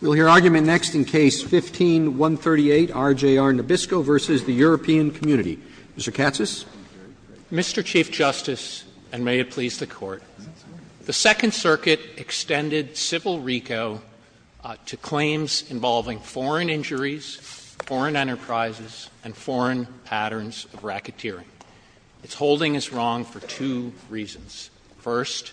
We will hear argument next in Case No. 15-138, RJR Nabisco v. European Community. Mr. Katsas. Mr. Chief Justice, and may it please the Court, the Second Circuit extended civil RICO to claims involving foreign injuries, foreign enterprises, and foreign patterns of racketeering. Its holding is wrong for two reasons. First,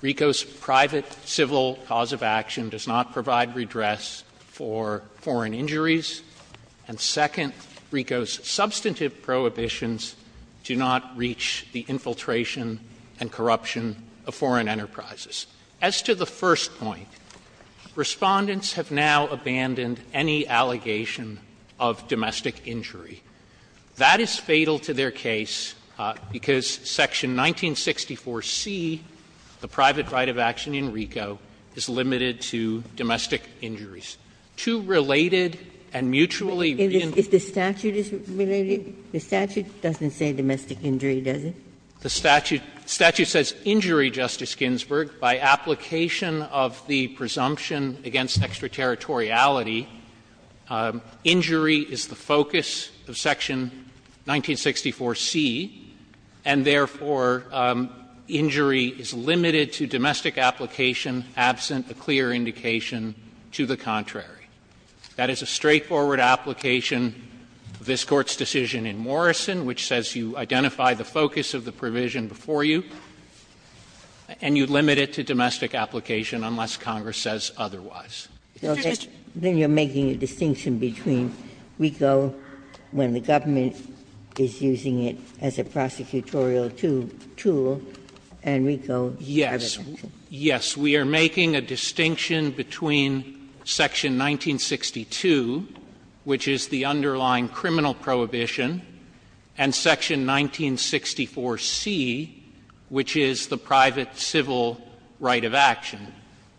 RICO's private civil cause of action does not provide redress for foreign injuries. And second, RICO's substantive prohibitions do not reach the infiltration and corruption of foreign enterprises. As to the first point, Respondents have now abandoned any allegation of domestic injury. That is fatal to their case, because Section 1964c, the private right of action in RICO, is limited to domestic injuries. Two related and mutually in. Ginsburg. If the statute is related, the statute doesn't say domestic injury, does it? The statute says injury, Justice Ginsburg, by application of the presumption against extraterritoriality. Injury is the focus of Section 1964c, and therefore, injury is limited to domestic application absent a clear indication to the contrary. That is a straightforward application of this Court's decision in Morrison, which says you identify the focus of the provision before you and you limit it to domestic application unless Congress says otherwise. Ginsburg. Then you are making a distinction between RICO when the government is using it as a prosecutorial tool and RICO as a distinction? Yes. We are making a distinction between Section 1962, which is the underlying criminal prohibition, and Section 1964c, which is the private civil right of action.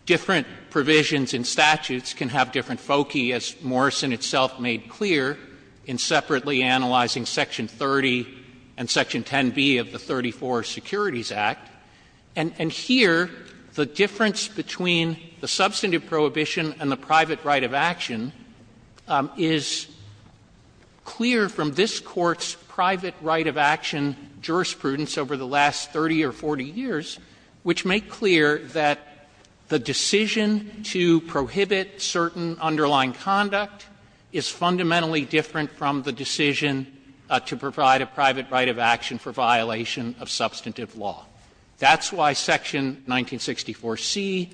Different provisions in statutes can have different foci, as Morrison itself made clear in separately analyzing Section 30 and Section 10b of the 34 Securities Act. And here, the difference between the substantive prohibition and the private right of action is clear from this Court's private right of action jurisprudence over the last 30 or 40 years, which make clear that the decision to prohibit certain underlying conduct is fundamentally different from the decision to provide a private right of action for violation of substantive law. That's why Section 1964c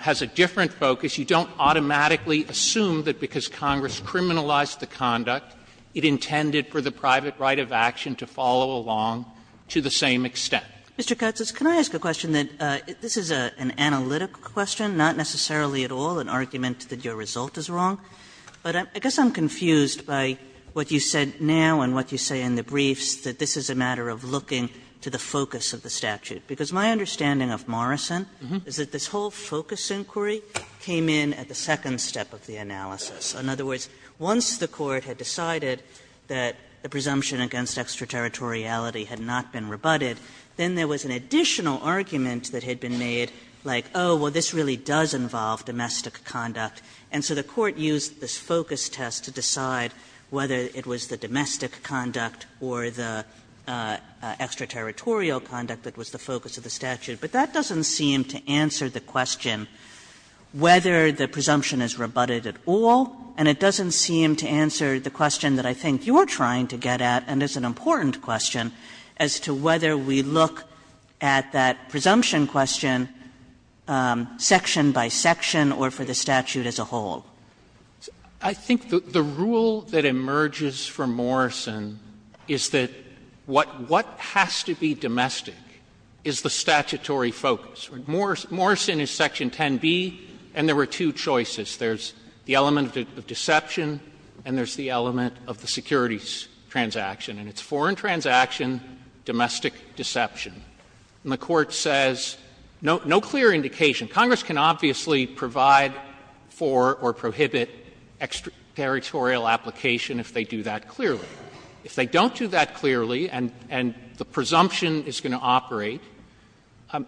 has a different focus. You don't automatically assume that because Congress criminalized the conduct, it intended for the private right of action to follow along to the same extent. Mr. Katsas, can I ask a question that this is an analytic question, not necessarily at all an argument that your result is wrong, but I guess I'm confused by what you said now and what you say in the briefs, that this is a matter of looking to the focus of the statute. Because my understanding of Morrison is that this whole focus inquiry came in at the second step of the analysis. In other words, once the Court had decided that the presumption against extraterritoriality had not been rebutted, then there was an additional argument that had been made like, oh, well, this really does involve domestic conduct. And so the Court used this focus test to decide whether it was the domestic conduct or the extraterritorial conduct that was the focus of the statute. But that doesn't seem to answer the question whether the presumption is rebutted at all, and it doesn't seem to answer the question that I think you're trying to get at, and it's an important question, as to whether we look at that presumption question section by section or for the statute as a whole. Katsas, I think the rule that emerges from Morrison is that what has to be domestic is the statutory focus. Morrison is section 10b, and there were two choices. There's the element of deception, and there's the element of the securities transaction, and it's foreign transaction, domestic deception. And the Court says, no clear indication. Congress can obviously provide for or prohibit extraterritorial application if they do that clearly. If they don't do that clearly and the presumption is going to operate,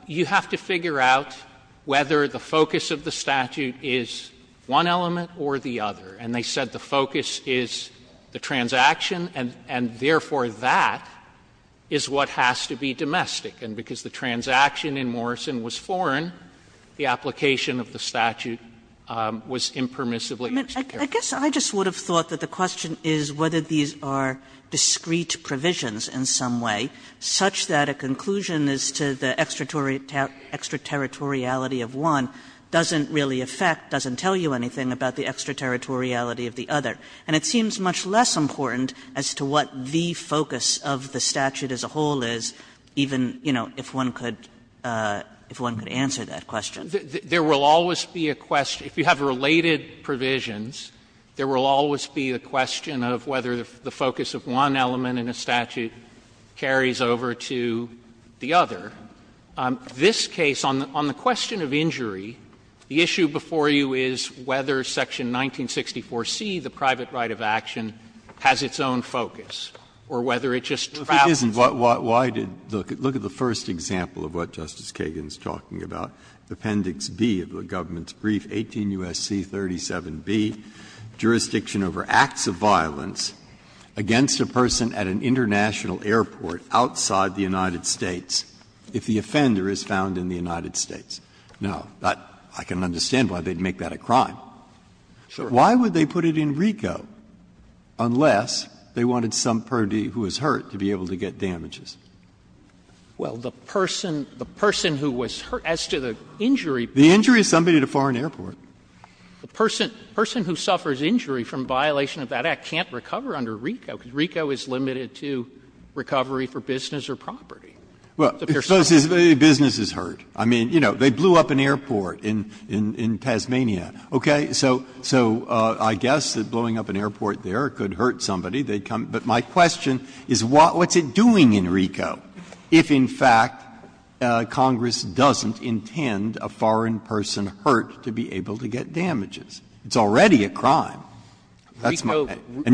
you have to figure out whether the focus of the statute is one element or the other. And they said the focus is the transaction, and therefore that is what has to be domestic. And because the transaction in Morrison was foreign, the application of the statute was impermissibly extraterritorial. Kagan. Kagan. I guess I just would have thought that the question is whether these are discreet provisions in some way, such that a conclusion as to the extraterritoriality of one doesn't really affect, doesn't tell you anything about the extraterritoriality of the other. And it seems much less important as to what the focus of the statute as a whole is, even, you know, if one could answer that question. There will always be a question. If you have related provisions, there will always be a question of whether the focus of one element in a statute carries over to the other. This case, on the question of injury, the issue before you is whether section 1964C, the private right of action, has its own focus, or whether it just travels over to the other. Breyer. Look at the first example of what Justice Kagan is talking about, Appendix B of the government's brief, 18 U.S.C. 37B, jurisdiction over acts of violence against a person at an international airport outside the United States if the offender is found in the United States. Now, I can understand why they would make that a crime. Why would they put it in RICO unless they wanted somebody who was hurt to be able to get damages? Well, the person who was hurt as to the injury. The injury is somebody at a foreign airport. And RICO is limited to recovery for business or property. Breyer. Well, suppose a business is hurt. I mean, you know, they blew up an airport in Tasmania, okay? So I guess that blowing up an airport there could hurt somebody. But my question is what's it doing in RICO if, in fact, Congress doesn't intend a foreign person hurt to be able to get damages? It's already a crime. And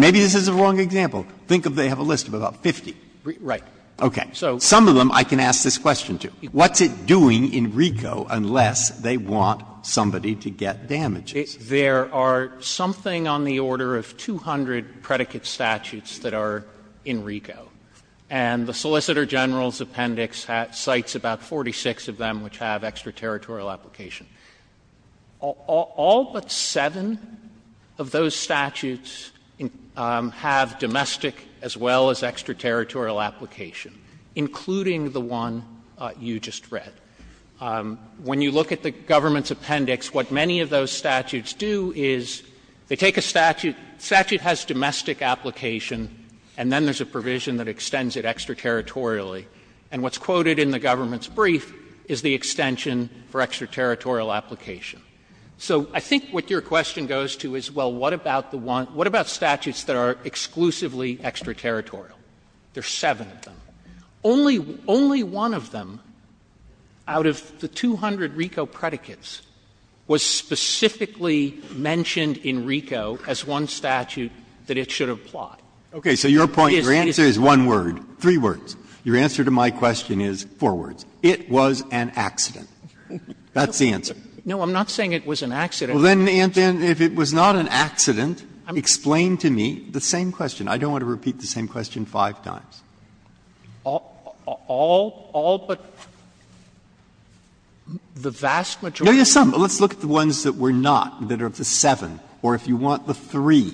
maybe this is a wrong example. Think of they have a list of about 50. Right. Okay. Some of them I can ask this question to. What's it doing in RICO unless they want somebody to get damages? There are something on the order of 200 predicate statutes that are in RICO. And the Solicitor General's appendix cites about 46 of them which have extraterritorial application. All but seven of those statutes have domestic as well as extraterritorial application, including the one you just read. When you look at the government's appendix, what many of those statutes do is they take a statute, statute has domestic application, and then there's a provision that extends it extraterritorially. And what's quoted in the government's brief is the extension for extraterritorial application. So I think what your question goes to is, well, what about the one — what about statutes that are exclusively extraterritorial? There are seven of them. Only — only one of them out of the 200 RICO predicates was specifically mentioned in RICO as one statute that it should have plotted. It is— Breyer. The answer to my question is, four words, it was an accident. That's the answer. No, I'm not saying it was an accident. Well, then, if it was not an accident, explain to me the same question. I don't want to repeat the same question five times. All — all but the vast majority. No, there's some. Let's look at the ones that were not, that are of the seven, or if you want, the three.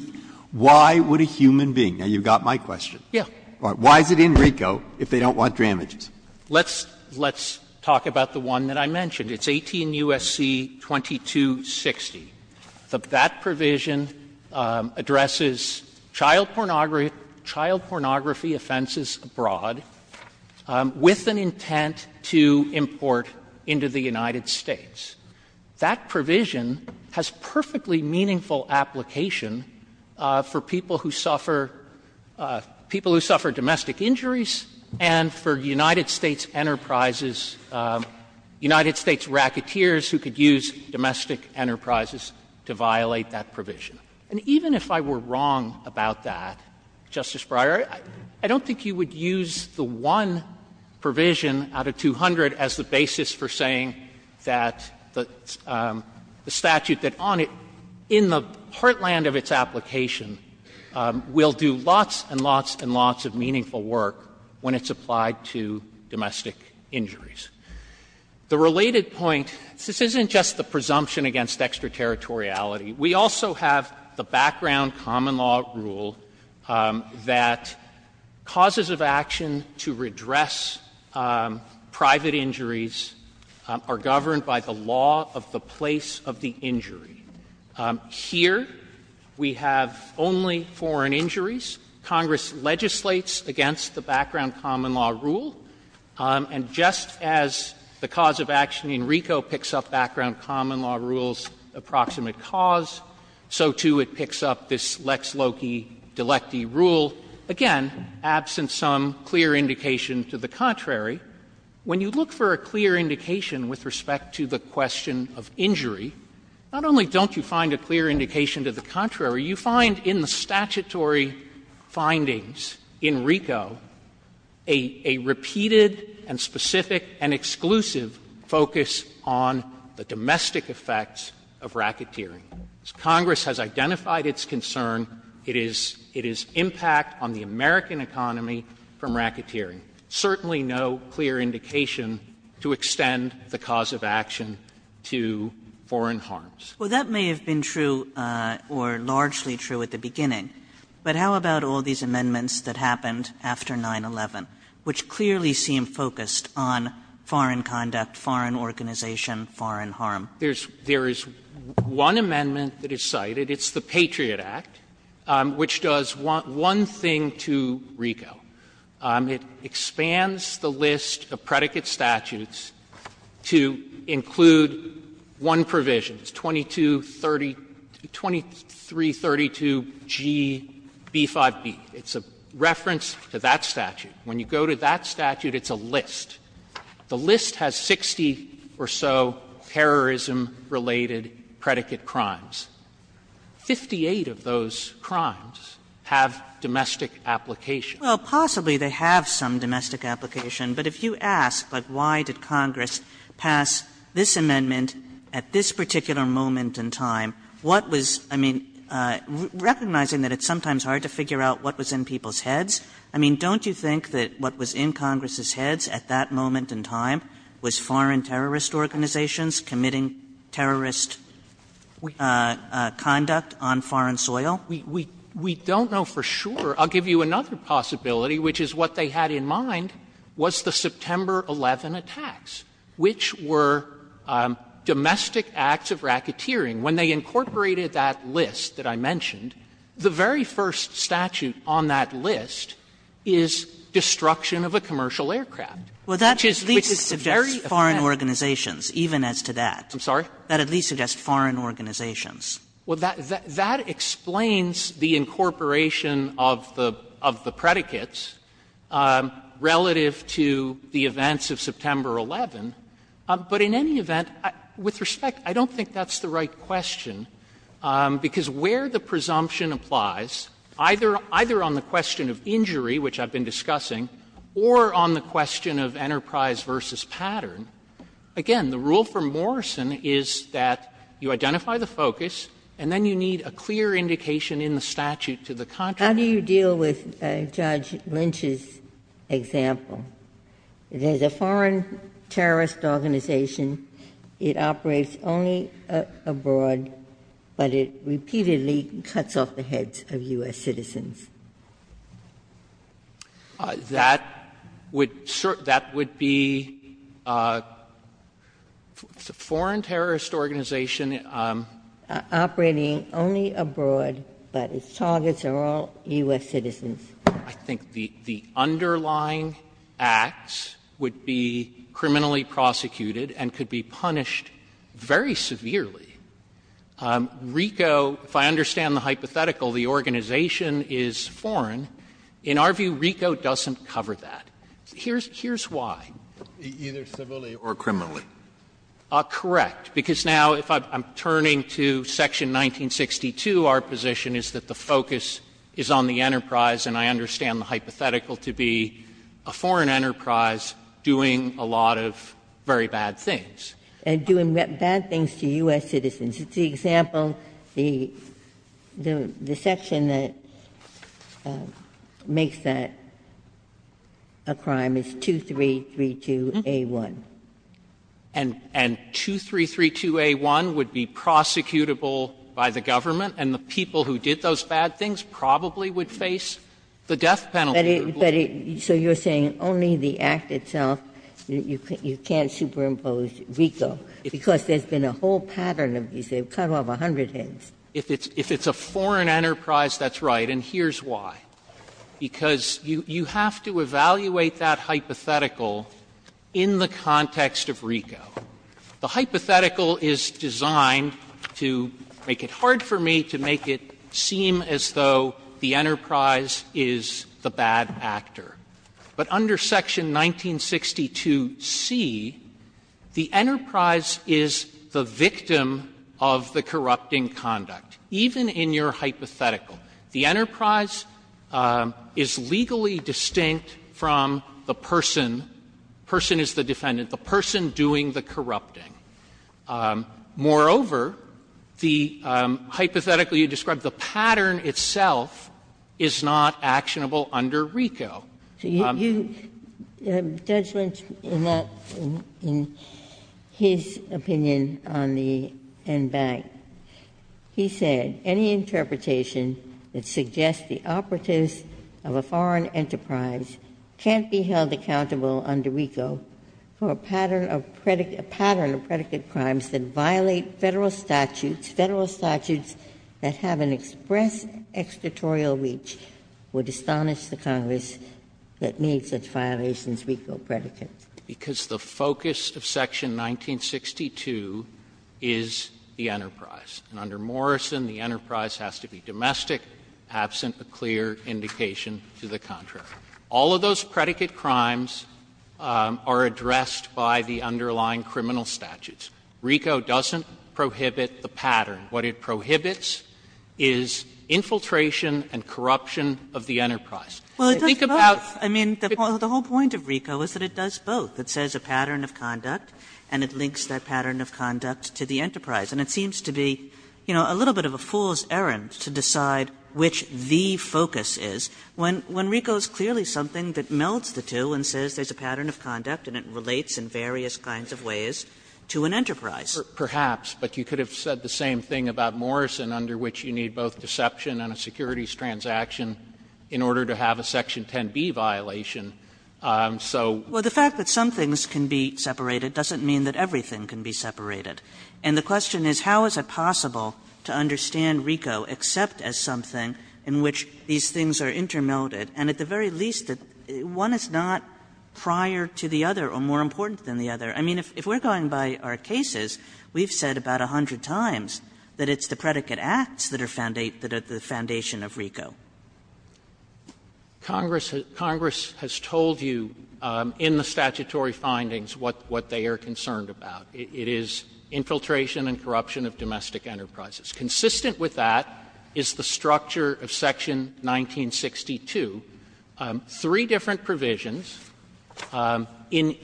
Why would a human being — now, you've got my question. Yes. Why is it in RICO if they don't want damages? Let's — let's talk about the one that I mentioned. It's 18 U.S.C. 2260. That provision addresses child pornography offenses abroad with an intent to import into the United States. That provision has perfectly meaningful application for people who suffer — people who suffer domestic injuries and for United States enterprises, United States racketeers who could use domestic enterprises to violate that provision. And even if I were wrong about that, Justice Breyer, I don't think you would use the one provision out of 200 as the basis for saying that the statute that on it, in the heartland of its application, will do lots and lots and lots of meaningful work when it's applied to domestic injuries. The related point, this isn't just the presumption against extraterritoriality. We also have the background common law rule that causes of action to redress private injuries are governed by the law of the place of the injury. Here, we have only foreign injuries. Congress legislates against the background common law rule. And just as the cause of action in RICO picks up background common law rules, approximate cause, so, too, it picks up this Lex loci delecti rule, again, absent some clear indication to the contrary, when you look for a clear indication with respect to the question of injury, not only don't you find a clear indication to the contrary, you find in the statutory findings in RICO a repeated and specific and exclusive focus on the domestic effects of racketeering. As Congress has identified its concern, it is impact on the American economy from racketeering. Certainly no clear indication to extend the cause of action to foreign harms. Kagan. Well, that may have been true or largely true at the beginning, but how about all these amendments that happened after 9-11, which clearly seem focused on foreign conduct, foreign organization, foreign harm? There is one amendment that is cited. It's the Patriot Act, which does one thing to RICO. It expands the list of predicate statutes to include one provision, 2232 G.B.5b. It's a reference to that statute. The list has 60 or so terrorism-related predicate crimes. Fifty-eight of those crimes have domestic application. Kagan. Well, possibly they have some domestic application, but if you ask, like, why did Congress pass this amendment at this particular moment in time, what was, I mean, recognizing that it's sometimes hard to figure out what was in people's heads, I mean, don't you think that what was in Congress's heads at that moment in time was foreign terrorist organizations committing terrorist conduct on foreign soil? We don't know for sure. I'll give you another possibility, which is what they had in mind was the September 11 attacks, which were domestic acts of racketeering. When they incorporated that list that I mentioned, the very first statute on that list is destruction of a commercial aircraft. Which is a very effective statute. Kagan. Well, that at least suggests foreign organizations, even as to that. I'm sorry? That at least suggests foreign organizations. Well, that explains the incorporation of the predicates relative to the events of September 11. But in any event, with respect, I don't think that's the right question, because where the presumption applies, either on the question of injury, which I've been discussing, or on the question of enterprise versus pattern, again, the rule for Morrison is that you identify the focus and then you need a clear indication in the statute to the contrary. How do you deal with Judge Lynch's example? It is a foreign terrorist organization. It operates only abroad, but it repeatedly cuts off the heads of U.S. citizens. That would be a foreign terrorist organization operating only abroad, but its targets I think the underlying acts would be criminally prosecuted and could be punished very severely. RICO, if I understand the hypothetical, the organization is foreign, in our view, RICO doesn't cover that. Here's why. Either civilly or criminally. Correct. Because now, if I'm turning to section 1962, our position is that the focus is on the enterprise, and I understand the hypothetical to be a foreign enterprise doing a lot of very bad things. And doing bad things to U.S. citizens. It's the example, the section that makes that a crime is 2332a1. And 2332a1 would be prosecutable by the government, and the people who did those bad things probably would face the death penalty. Ginsburg. So you're saying only the act itself, you can't superimpose RICO, because there's been a whole pattern of these. They've cut off a hundred heads. If it's a foreign enterprise, that's right, and here's why. Because you have to evaluate that hypothetical in the context of RICO. The hypothetical is designed to make it hard for me to make it seem as though the enterprise is the bad actor. But under section 1962c, the enterprise is the victim of the corrupting conduct, even in your hypothetical. The enterprise is legally distinct from the person, the person is the defendant, the person doing the corrupting. Moreover, the hypothetical you described, the pattern itself is not actionable under RICO. Ginsburg. Judgment in that, in his opinion on the NBAC, he said, Because the focus of section 1962 is the enterprise, and under Morrison, the enterprise has to be domestic, absent a clear indication to the contrary. All of those predicate crimes are addressed by the underlying criminal statutes. RICO doesn't prohibit the pattern. What it prohibits is infiltration and corruption of the enterprise. Think about the point of RICO is that it does both. It says a pattern of conduct, and it links that pattern of conduct to the enterprise. And it seems to be, you know, a little bit of a fool's errand to decide which the focus is, when RICO is clearly something that melds the two and says there is a pattern of conduct and it relates in various kinds of ways to an enterprise. Perhaps. But you could have said the same thing about Morrison, under which you need both deception and a securities transaction in order to have a section 10b violation. So. Well, the fact that some things can be separated doesn't mean that everything can be separated. And the question is, how is it possible to understand RICO except as something in which these things are intermelded? And at the very least, one is not prior to the other or more important than the other. I mean, if we are going by our cases, we have said about 100 times that it's the predicate acts that are the foundation of RICO. Congress has told you in the statutory findings what they are concerned about. It is infiltration and corruption of domestic enterprises. Consistent with that is the structure of section 1962, three different provisions. In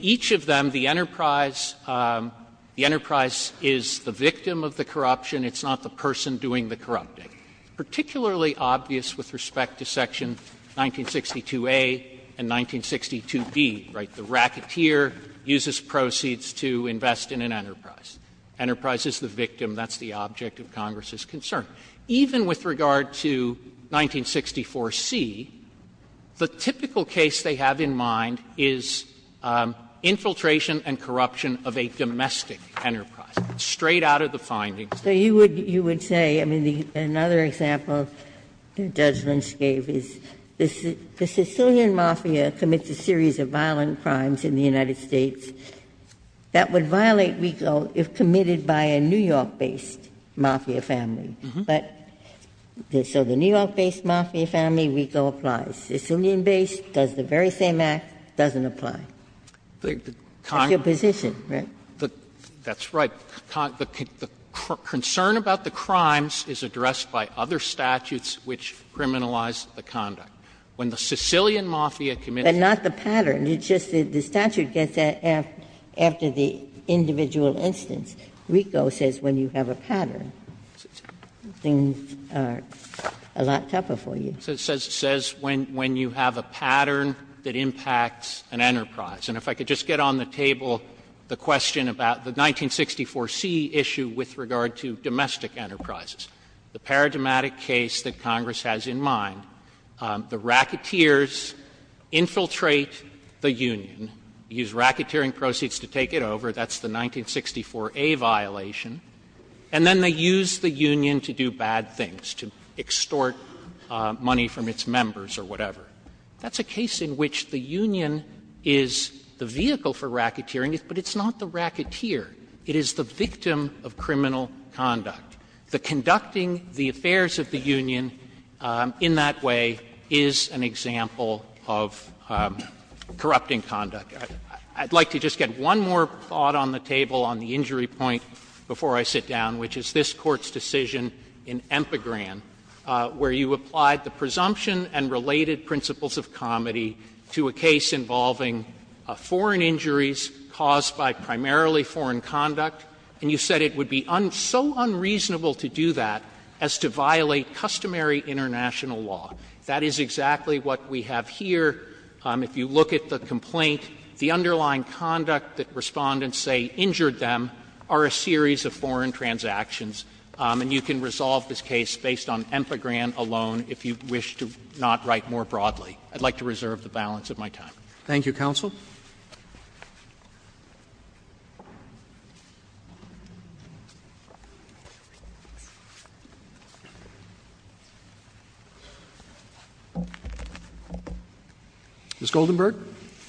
each of them, the enterprise the enterprise is the victim of the corruption. It's not the person doing the corrupting. Particularly obvious with respect to section 1962a and 1962b, right? The racketeer uses proceeds to invest in an enterprise. Enterprise is the victim. That's the object of Congress's concern. Even with regard to 1964c, the typical case they have in mind is infiltration and corruption of a domestic enterprise, straight out of the findings. Ginsburg. You would say, I mean, another example Judge Lynch gave is the Sicilian Mafia commits a series of violent crimes in the United States that would violate RICO if committed by a New York-based mafia family. But so the New York-based mafia family, RICO applies. Sicilian-based does the very same act, doesn't apply. That's your position, right? That's right. The concern about the crimes is addressed by other statutes which criminalize When the Sicilian Mafia commits a series of violent crimes. But not the pattern. It's just that the statute gets that after the individual instance. RICO says when you have a pattern, things are a lot tougher for you. It says when you have a pattern that impacts an enterprise. And if I could just get on the table the question about the 1964c issue with regard to domestic enterprises, the paradigmatic case that Congress has in mind, the racketeers infiltrate the union, use racketeering proceeds to take it over, that's the 1964a violation, and then they use the union to do bad things, to extort money from its members or whatever. That's a case in which the union is the vehicle for racketeering, but it's not the racketeer. It is the victim of criminal conduct. The conducting the affairs of the union in that way is an example of corrupting conduct. I'd like to just get one more thought on the table on the injury point before I sit down, which is this Court's decision in Empagran, where you applied the presumption and related principles of comedy to a case involving foreign injuries caused by primarily foreign conduct. And you said it would be so unreasonable to do that as to violate customary international law. That is exactly what we have here. If you look at the complaint, the underlying conduct that Respondents say injured them are a series of foreign transactions. And you can resolve this case based on Empagran alone if you wish to not write more broadly. I'd like to reserve the balance of my time. Roberts Thank you, counsel. Ms. Goldenberg. Goldenberg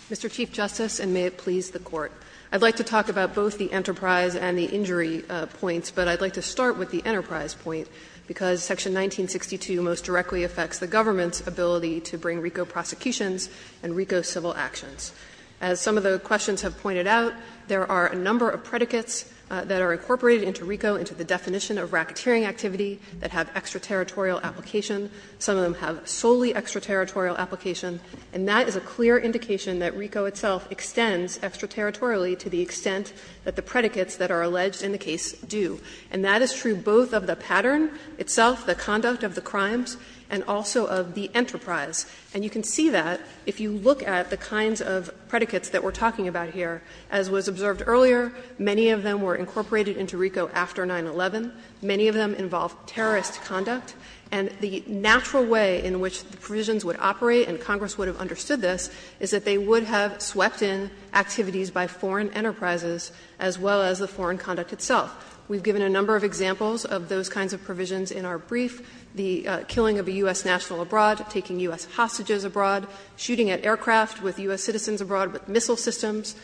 Mr. Chief Justice, and may it please the Court. I'd like to talk about both the enterprise and the injury points, but I'd like to start with the enterprise point, because section 1962 most directly affects the government's ability to bring RICO prosecutions and RICO civil actions. As some of the questions have pointed out, there are a number of predicates that are incorporated into RICO into the definition of racketeering activity that have extraterritorial application. Some of them have solely extraterritorial application, and that is a clear indication that RICO itself extends extraterritorially to the extent that the predicates that are alleged in the case do. And that is true both of the pattern itself, the conduct of the crimes, and also of the enterprise. And you can see that if you look at the kinds of predicates that we're talking about here. As was observed earlier, many of them were incorporated into RICO after 9-11. Many of them involved terrorist conduct. And the natural way in which the provisions would operate, and Congress would have understood this, is that they would have swept in activities by foreign enterprises as well as the foreign conduct itself. We've given a number of examples of those kinds of provisions in our brief, the killing of a U.S. national abroad, taking U.S. hostages abroad, shooting at aircraft with U.S. citizens abroad with missile systems.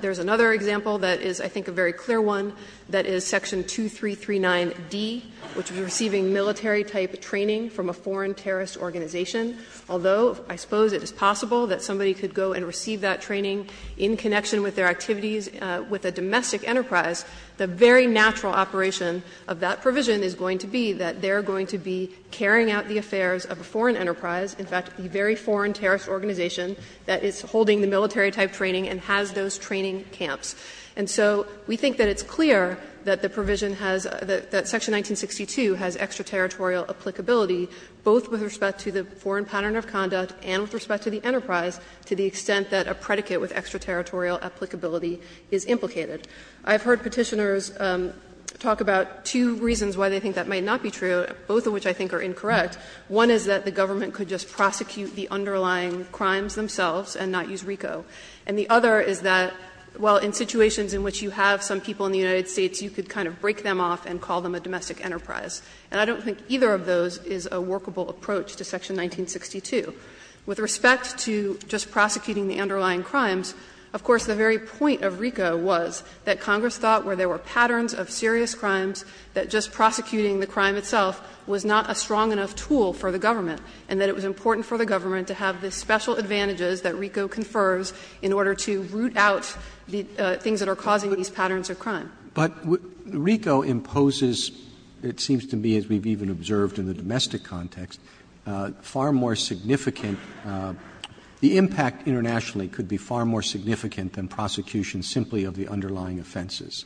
There's another example that is, I think, a very clear one, that is section 2339d, which is receiving military-type training from a foreign terrorist organization. Although I suppose it is possible that somebody could go and receive that training in connection with their activities with a domestic enterprise, the very natural operation of that provision is going to be that they're going to be carrying out the affairs of a foreign enterprise, in fact, a very foreign terrorist organization that is holding the military-type training and has those training camps. And so we think that it's clear that the provision has the — that section 1962 has extraterritorial applicability, both with respect to the foreign pattern of conduct and with respect to the enterprise, to the extent that a predicate with extraterritorial applicability is implicated. I've heard Petitioners talk about two reasons why they think that might not be true, both of which I think are incorrect. One is that the government could just prosecute the underlying crimes themselves and not use RICO. And the other is that, well, in situations in which you have some people in the United States, you could kind of break them off and call them a domestic enterprise. And I don't think either of those is a workable approach to section 1962. With respect to just prosecuting the underlying crimes, of course, the very point of RICO was that Congress thought where there were patterns of serious crimes, that just prosecuting the crime itself was not a strong enough tool for the government, and that it was important for the government to have the special advantages that RICO confers in order to root out the things that are causing these patterns of crime. Roberts. But RICO imposes, it seems to me, as we've even observed in the domestic context, far more significant — the impact internationally could be far more significant than prosecution simply of the underlying offenses.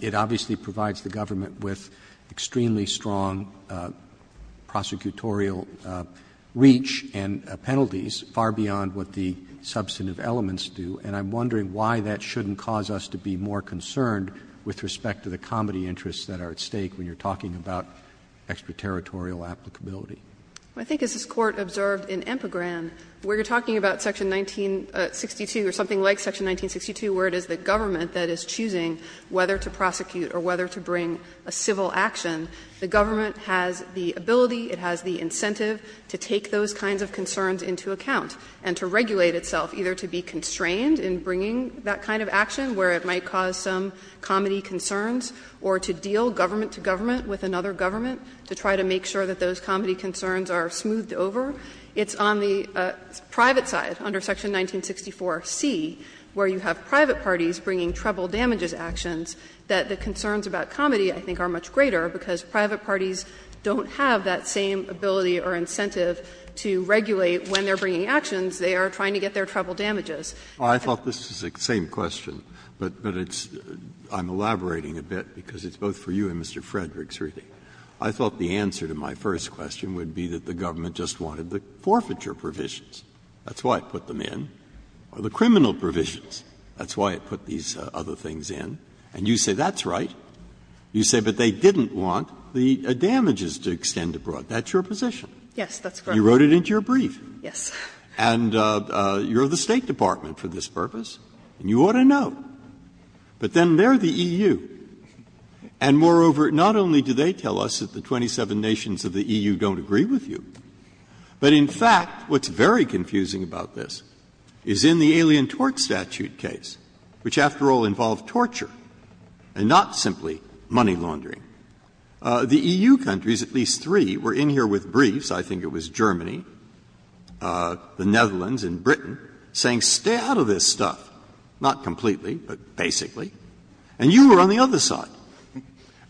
It obviously provides the government with extremely strong prosecutorial reach and penalties far beyond what the substantive elements do. And I'm wondering why that shouldn't cause us to be more concerned with respect to the comity interests that are at stake when you're talking about extraterritorial applicability. I think as this Court observed in Empagran, where you're talking about section 1962 or something like section 1962, where it is the government that is choosing whether to prosecute or whether to bring a civil action, the government has the ability, it has the incentive to take those kinds of concerns into account and to regulate itself, either to be constrained in bringing that kind of action where it might cause some comity concerns, or to deal government to government with another government to try to make sure that those comity concerns are smoothed over, it's on the private side, under section 1964c, where you have private parties bringing treble damages actions, that the concerns about comity, I think, are much greater, because private parties don't have that same ability or incentive to regulate when they're bringing actions, they are trying to get their treble damages. Breyer, I thought this was the same question, but it's — I'm elaborating a bit, because it's both for you and Mr. Frederick's reading. I thought the answer to my first question would be that the government just wanted the forfeiture provisions. That's why it put them in. Or the criminal provisions, that's why it put these other things in. And you say that's right. You say, but they didn't want the damages to extend abroad. That's your position. Yes, that's correct. You wrote it into your brief. Yes. And you're the State Department for this purpose, and you ought to know. But then they're the EU, and moreover, not only do they tell us that the 27 nations of the EU don't agree with you, but in fact, what's very confusing about this is in the Alien Tort Statute case, which, after all, involved torture and not simply money laundering. The EU countries, at least three, were in here with briefs. I think it was Germany, the Netherlands and Britain, saying, stay out of this stuff. Not completely, but basically. And you were on the other side.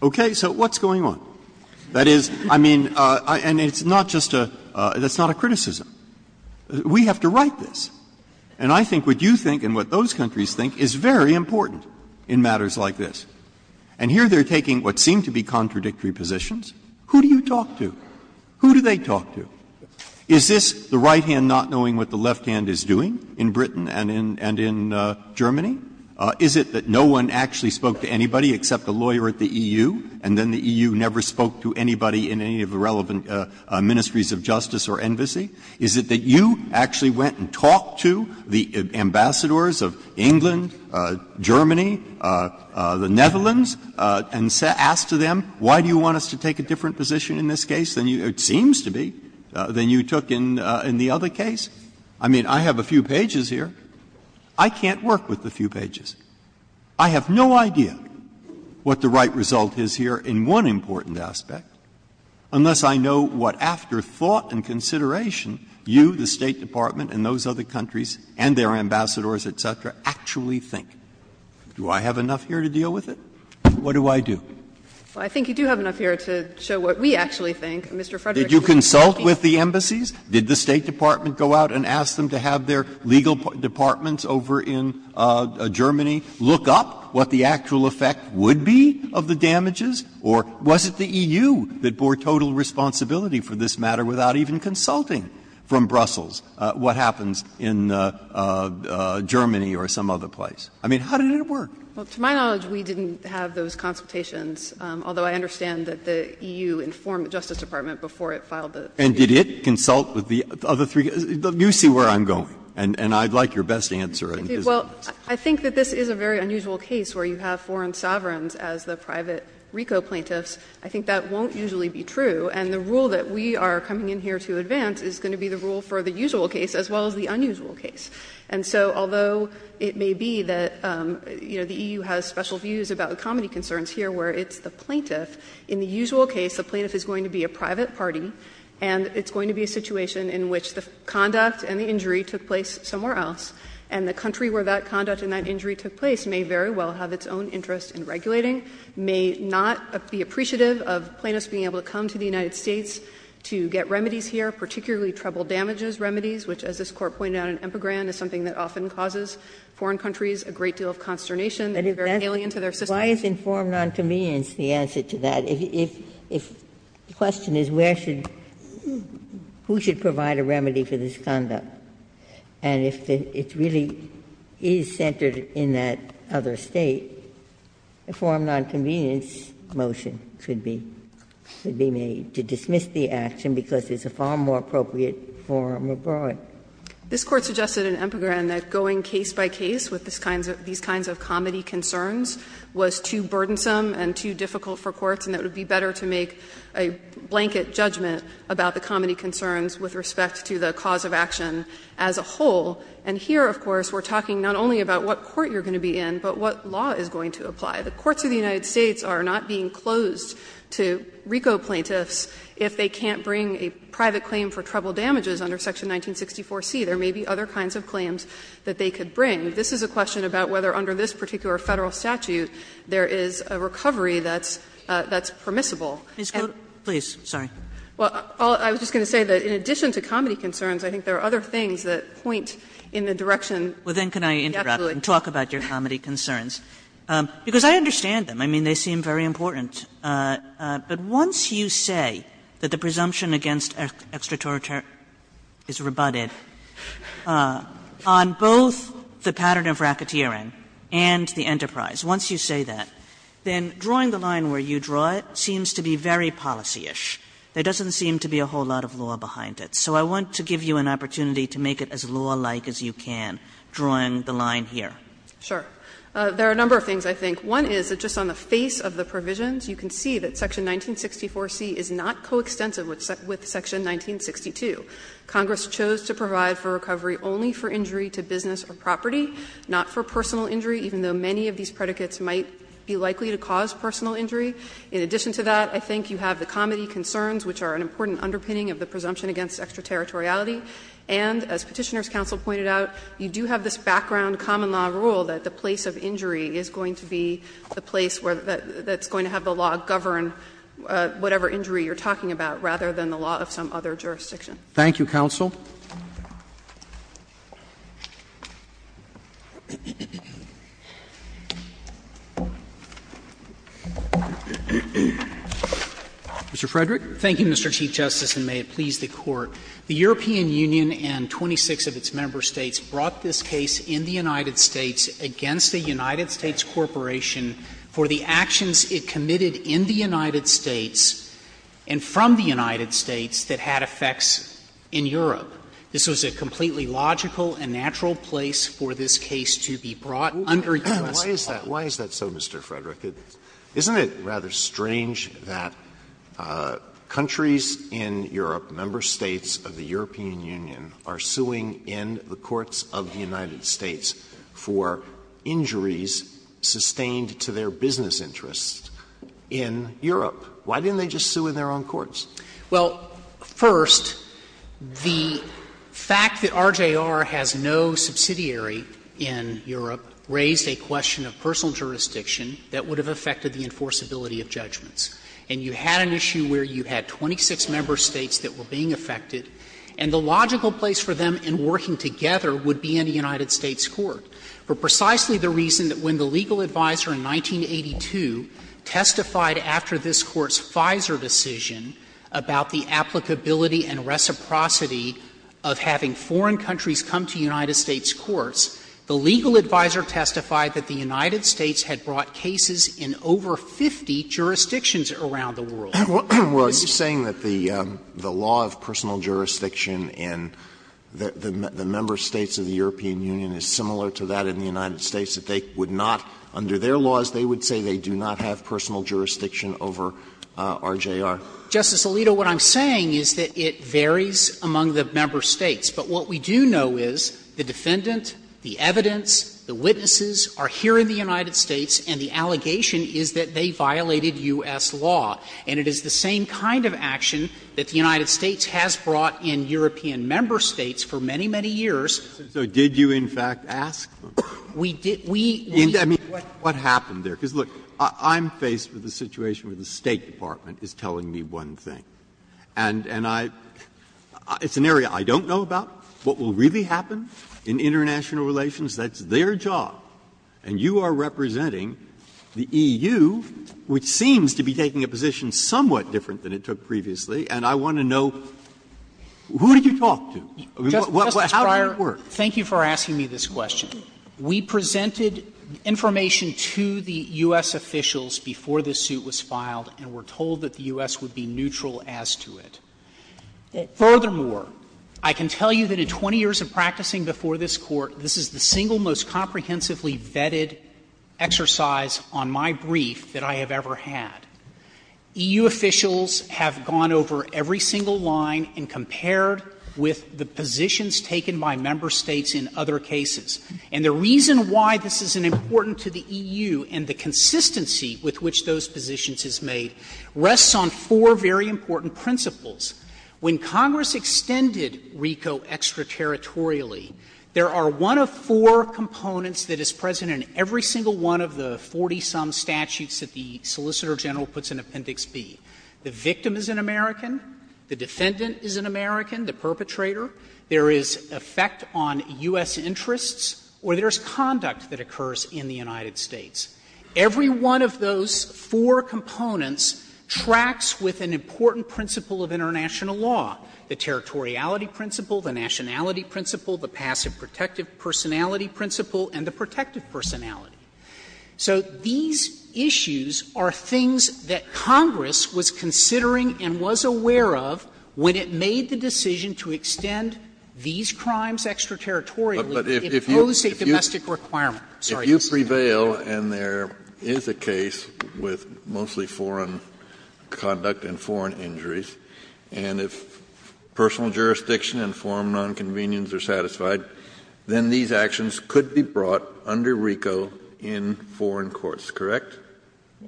Okay, so what's going on? That is, I mean, and it's not just a — that's not a criticism. We have to write this. And I think what you think and what those countries think is very important in matters like this. And here they're taking what seem to be contradictory positions. Who do you talk to? Who do they talk to? Is this the right hand not knowing what the left hand is doing in Britain and in Germany? Is it that no one actually spoke to anybody except a lawyer at the EU, and then the right hand spoke to anybody in any of the relevant ministries of justice or embassy? Is it that you actually went and talked to the ambassadors of England, Germany, the Netherlands, and asked them, why do you want us to take a different position in this case than you — it seems to be — than you took in the other case? I mean, I have a few pages here. I can't work with a few pages. I have no idea what the right result is here in one important aspect, unless I know what, after thought and consideration, you, the State Department, and those other countries and their ambassadors, et cetera, actually think. Do I have enough here to deal with it? What do I do? Well, I think you do have enough here to show what we actually think, Mr. Frederick. Did you consult with the embassies? Did the State Department go out and ask them to have their legal departments over in Germany look up what the actual effect would be of the damages? Or was it the EU that bore total responsibility for this matter without even consulting from Brussels what happens in Germany or some other place? I mean, how did it work? Well, to my knowledge, we didn't have those consultations, although I understand that the EU informed the Justice Department before it filed the suit. And did it consult with the other three? You see where I'm going, and I'd like your best answer. Well, I think that this is a very unusual case where you have foreign sovereigns as the private RICO plaintiffs. I think that won't usually be true. And the rule that we are coming in here to advance is going to be the rule for the usual case as well as the unusual case. And so although it may be that, you know, the EU has special views about the comedy concerns here where it's the plaintiff, in the usual case, the plaintiff is going to be a private party, and it's going to be a situation in which the conduct and the country where that conduct and that injury took place may very well have its own interest in regulating, may not be appreciative of plaintiffs being able to come to the United States to get remedies here, particularly treble damages remedies, which, as this Court pointed out in Empegran, is something that often causes foreign countries a great deal of consternation. And if that's why it's informed on to me is the answer to that. If the question is where should, who should provide a remedy for this conduct? And if it really is centered in that other State, a form of nonconvenience motion should be made to dismiss the action because it's a far more appropriate form abroad. This Court suggested in Empegran that going case by case with these kinds of comedy concerns was too burdensome and too difficult for courts, and it would be better to make a blanket judgment about the comedy concerns with respect to the cause of action as a whole. And here, of course, we're talking not only about what court you're going to be in, but what law is going to apply. The courts of the United States are not being closed to RICO plaintiffs if they can't bring a private claim for treble damages under Section 1964c. There may be other kinds of claims that they could bring. This is a question about whether under this particular Federal statute there is a recovery that's permissible. And I was just going to say that in addition to comedy concerns, I think there are other things that point in the direction of the statute. Kagan Well, then can I interrupt and talk about your comedy concerns? Because I understand them. I mean, they seem very important. But once you say that the presumption against extraterritorial is rebutted on both the pattern of racketeering and the enterprise, once you say that, then drawing the line where you draw it seems to be very policyish. There doesn't seem to be a whole lot of law behind it. So I want to give you an opportunity to make it as law-like as you can, drawing the line here. O'Connell Sure. There are a number of things, I think. One is that just on the face of the provisions, you can see that Section 1964c is not coextensive with Section 1962. Congress chose to provide for recovery only for injury to business or property, not for personal injury, even though many of these predicates might be likely to cause personal injury. In addition to that, I think you have the comedy concerns, which are an important underpinning of the presumption against extraterritoriality. And as Petitioner's counsel pointed out, you do have this background common law rule that the place of injury is going to be the place where that's going to have the law govern whatever injury you're talking about, rather than the law of some other jurisdiction. Roberts Mr. Frederick. Frederick, thank you, Mr. Chief Justice, and may it please the Court. The European Union and 26 of its member States brought this case in the United States against a United States corporation for the actions it committed in the United States and from the United States that had effects in Europe. This was a completely logical and natural place for this case to be brought under U.S. law. Alito Why is that so, Mr. Frederick? Isn't it rather strange that countries in Europe, member States of the European Union, are suing in the courts of the United States for injuries sustained to their business interests in Europe? Why didn't they just sue in their own courts? Frederick, Well, first, the fact that RJR has no subsidiary in Europe raised a question of personal jurisdiction that would have affected the enforceability of judgments. And you had an issue where you had 26 member States that were being affected, and the logical place for them in working together would be in a United States court, for precisely the reason that when the legal adviser in 1982 testified after this Court's FISA decision about the applicability and reciprocity of having foreign countries come to United States courts, the legal adviser testified that the United States had brought cases in over 50 jurisdictions around the world. Alito Well, are you saying that the law of personal jurisdiction in the member States of the European Union is similar to that in the United States, that they would not, under their laws, they would say they do not have personal jurisdiction over RJR? Frederick, Justice Alito, what I'm saying is that it varies among the member States. But what we do know is, the defendant, the evidence, the witnesses are here in the United States, and the allegation is that they violated U.S. law. And it is the same kind of action that the United States has brought in European member States for many, many years. Breyer, So did you, in fact, ask? Frederick, we did. Breyer, I mean, what happened there? Because, look, I'm faced with the situation where the State Department is telling me one thing. And I – it's an area I don't know about, what will really happen in international relations. That's their job. And you are representing the EU, which seems to be taking a position somewhat different than it took previously, and I want to know, who did you talk to? How did it work? Frederick, thank you for asking me this question. We presented information to the U.S. officials before the suit was filed and were absolutely neutral as to it. Furthermore, I can tell you that in 20 years of practicing before this Court, this is the single most comprehensively vetted exercise on my brief that I have ever had. EU officials have gone over every single line and compared with the positions taken by member States in other cases. And the reason why this is important to the EU and the consistency with which those are very important principles, when Congress extended RICO extraterritorially, there are one of four components that is present in every single one of the 40-some statutes that the Solicitor General puts in Appendix B. The victim is an American, the defendant is an American, the perpetrator. There is effect on U.S. interests, or there is conduct that occurs in the United States. Every one of those four components tracks with an important principle of international law, the territoriality principle, the nationality principle, the passive protective personality principle, and the protective personality. So these issues are things that Congress was considering and was aware of when it made the decision to extend these crimes extraterritorially. It posed a domestic requirement. Kennedy, if you prevail and there is a case with mostly foreign conduct and foreign injuries, and if personal jurisdiction and foreign nonconvenience are satisfied, then these actions could be brought under RICO in foreign courts, correct?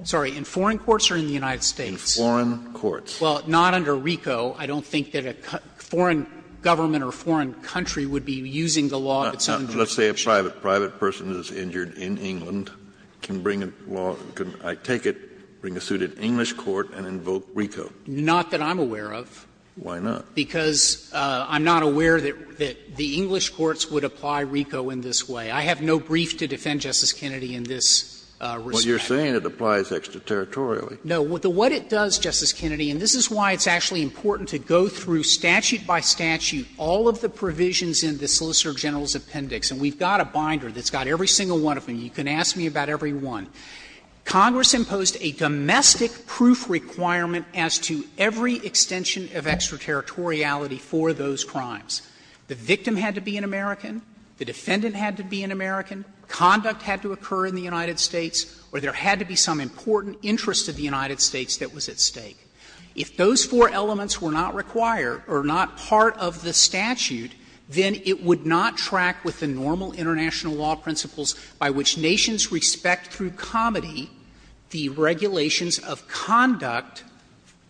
Sorry, in foreign courts or in the United States? In foreign courts. Well, not under RICO. I don't think that a foreign government or foreign country would be using the law of its own jurisdiction. Kennedy, let's say a private person is injured in England, can bring a law of its own jurisdiction, I take it, bring a suit in English court and invoke RICO. Not that I'm aware of. Why not? Because I'm not aware that the English courts would apply RICO in this way. I have no brief to defend Justice Kennedy in this respect. Well, you're saying it applies extraterritorially. No. What it does, Justice Kennedy, and this is why it's actually important to go through statute by statute all of the provisions in the Solicitor General's Appendix, and we've got a binder that's got every single one of them, you can ask me about every one. Congress imposed a domestic proof requirement as to every extension of extraterritoriality for those crimes. The victim had to be an American, the defendant had to be an American, conduct had to occur in the United States, or there had to be some important interest of the United States that was at stake. If those four elements were not required or not part of the statute, then it would not track with the normal international law principles by which nations respect through comedy the regulations of conduct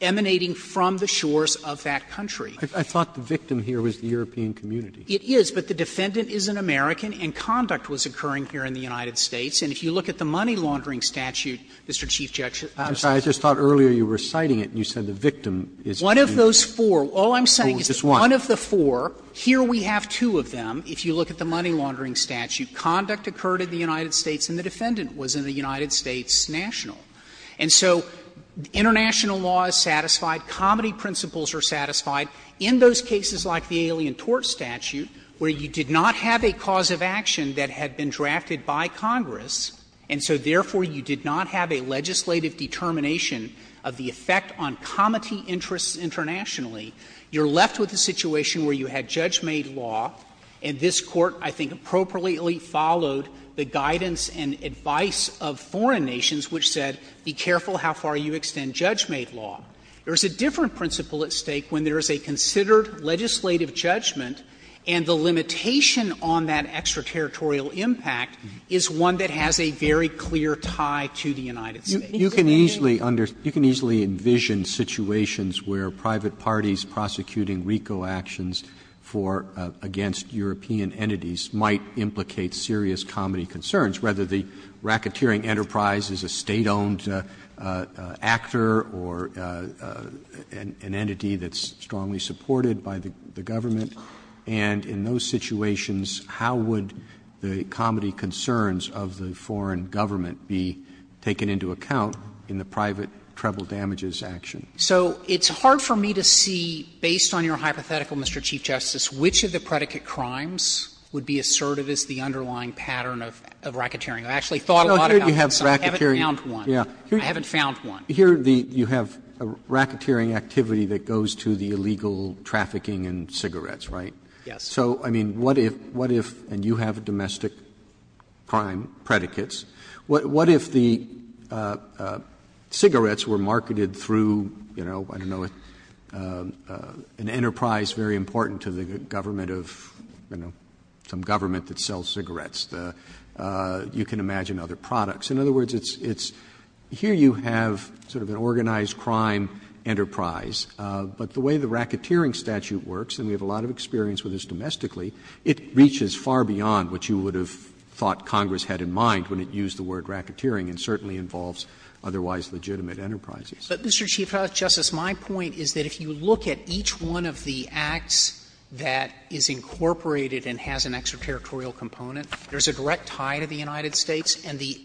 emanating from the shores of that country. I thought the victim here was the European community. It is, but the defendant is an American and conduct was occurring here in the United States. And if you look at the money laundering statute, Mr. Chief Justice Robertson I just thought earlier you were citing it and you said the victim is an American. One of those four, all I'm saying is one of the four, here we have two of them, if you look at the money laundering statute, conduct occurred in the United States and the defendant was in the United States national. And so international law is satisfied, comedy principles are satisfied. In those cases like the alien tort statute, where you did not have a cause of action that had been drafted by Congress, and so therefore you did not have a legislative determination of the effect on comedy interests internationally, you're left with a situation where you had judge-made law and this Court, I think, appropriately followed the guidance and advice of foreign nations, which said, be careful how far you extend judge-made law. There is a different principle at stake when there is a considered legislative judgment and the limitation on that extraterritorial impact is one that has a very clear tie to the United States. Roberts, you can easily understand, you can easily envision situations where private parties prosecuting RICO actions for or against European entities might implicate serious comedy concerns, whether the racketeering enterprise is a State-owned actor or an entity that's strongly supported by the government, and in those situations, how would the comedy concerns of the foreign government be taken into account? So it's hard for me to see, based on your hypothetical, Mr. Chief Justice, which of the predicate crimes would be assertive as the underlying pattern of racketeering. I actually thought a lot about this. Roberts, I haven't found one. Roberts, I haven't found one. Roberts, here you have a racketeering activity that goes to the illegal trafficking in cigarettes, right? So, I mean, what if, what if, and you have domestic crime predicates, what if the cigarettes were marketed through, you know, I don't know, an enterprise very important to the government of, you know, some government that sells cigarettes. You can imagine other products. In other words, it's here you have sort of an organized crime enterprise, but the way the racketeering statute works, and we have a lot of experience with this domestically, it reaches far beyond what you would have thought Congress had in mind when it used the word racketeering and certainly involves otherwise legitimate enterprises. But, Mr. Chief Justice, my point is that if you look at each one of the acts that is incorporated and has an extraterritorial component, there's a direct tie to the United States, and the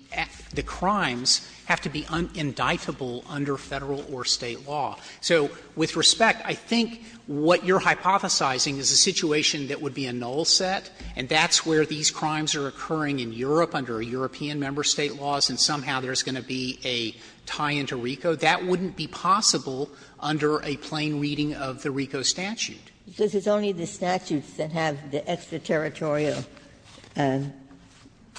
crimes have to be indictable under Federal or State law. So, with respect, I think what you're hypothesizing is a situation that would be a null set, and that's where these crimes are occurring in Europe under a European membership, and if there's a tie to Federal or State laws, and somehow there's going to be a tie into RICO, that wouldn't be possible under a plain reading of the RICO statute. Ginsburg's only the statutes that have the extraterritorial and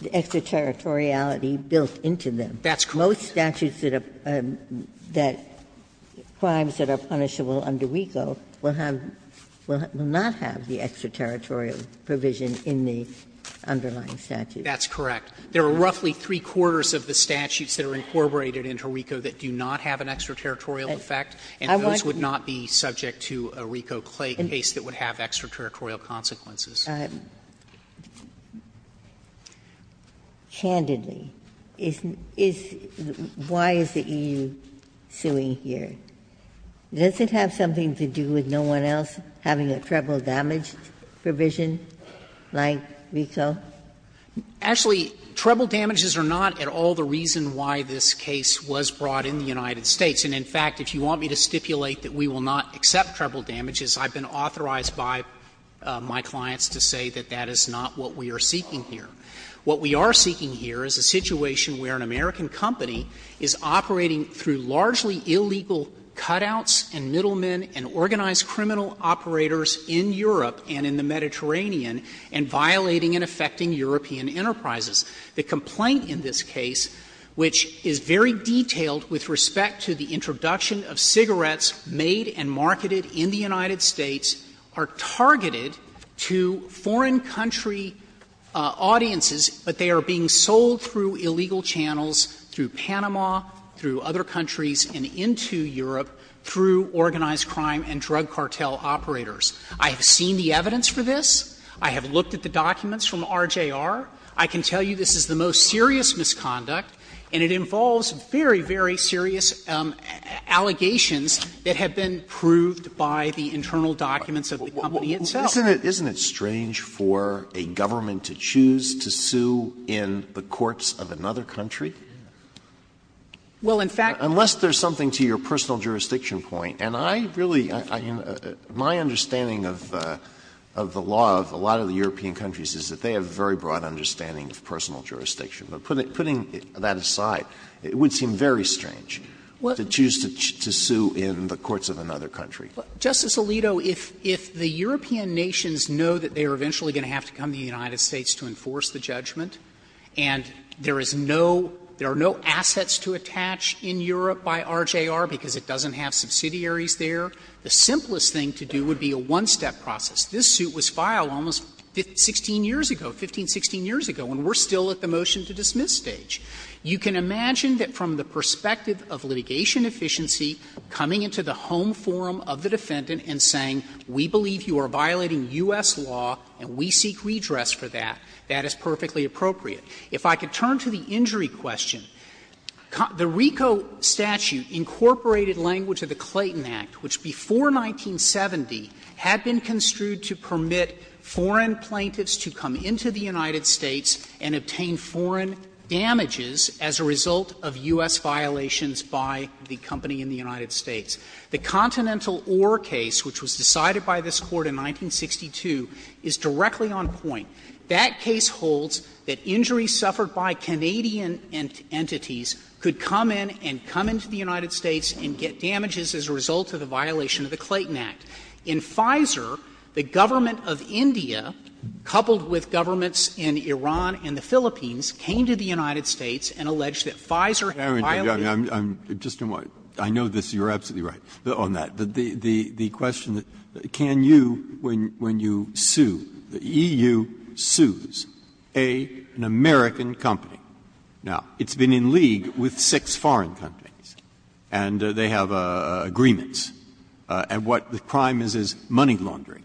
the extraterritoriality built into them. That's correct. Most statutes that are, that crimes that are punishable under RICO will have, will not have the extraterritorial provision in the underlying statute. That's correct. There are roughly three-quarters of the statutes that are incorporated into RICO that do not have an extraterritorial effect, and those would not be subject to a RICO-Claig case that would have extraterritorial consequences. Ginsburg Candidly, is, is, why is the EU suing here? Does it have something to do with no one else having a treble damage provision like RICO? Actually, treble damages are not at all the reason why this case was brought in the United States. And, in fact, if you want me to stipulate that we will not accept treble damages, I've been authorized by my clients to say that that is not what we are seeking here. What we are seeking here is a situation where an American company is operating through largely illegal cutouts and middlemen and organized criminal operators in Europe and in the Mediterranean and violating and affecting European enterprises. The complaint in this case, which is very detailed with respect to the introduction of cigarettes made and marketed in the United States, are targeted to foreign country audiences, but they are being sold through illegal channels, through Panama, through other countries, and into Europe through organized crime and drug cartel operators. I have seen the evidence for this. I have looked at the documents from RJR. I can tell you this is the most serious misconduct, and it involves very, very serious allegations that have been proved by the internal documents of the company itself. Alitoso, isn't it strange for a government to choose to sue in the courts of another country? Well, in fact, unless there's something to your personal jurisdiction point, and I really My understanding of the law of a lot of the European countries is that they have a very broad understanding of personal jurisdiction. But putting that aside, it would seem very strange to choose to sue in the courts of another country. Justice Alito, if the European nations know that they are eventually going to have to come to the United States to enforce the judgment, and there is no assets to attach in Europe by RJR because it doesn't have subsidiaries there, the simplest thing to do would be a one-step process. This suit was filed almost 16 years ago, 15, 16 years ago, and we're still at the motion-to-dismiss stage. You can imagine that from the perspective of litigation efficiency, coming into the home forum of the defendant and saying, we believe you are violating U.S. law and we seek redress for that, that is perfectly appropriate. If I could turn to the injury question, the RICO statute incorporated language of the Clayton Act, which before 1970 had been construed to permit foreign plaintiffs to come into the United States and obtain foreign damages as a result of U.S. violations by the company in the United States. The Continental Ore case, which was decided by this Court in 1962, is directly on point. That case holds that injuries suffered by Canadian entities could come in and come into the United States and get damages as a result of the violation of the Clayton Act. In Pfizer, the government of India, coupled with governments in Iran and the Philippines, came to the United States and alleged that Pfizer violated the law. Breyer, I'm just going to add, I know this, you're absolutely right on that, but the claim is that you sues an American company. Now, it's been in league with six foreign countries, and they have agreements. And what the crime is, is money laundering.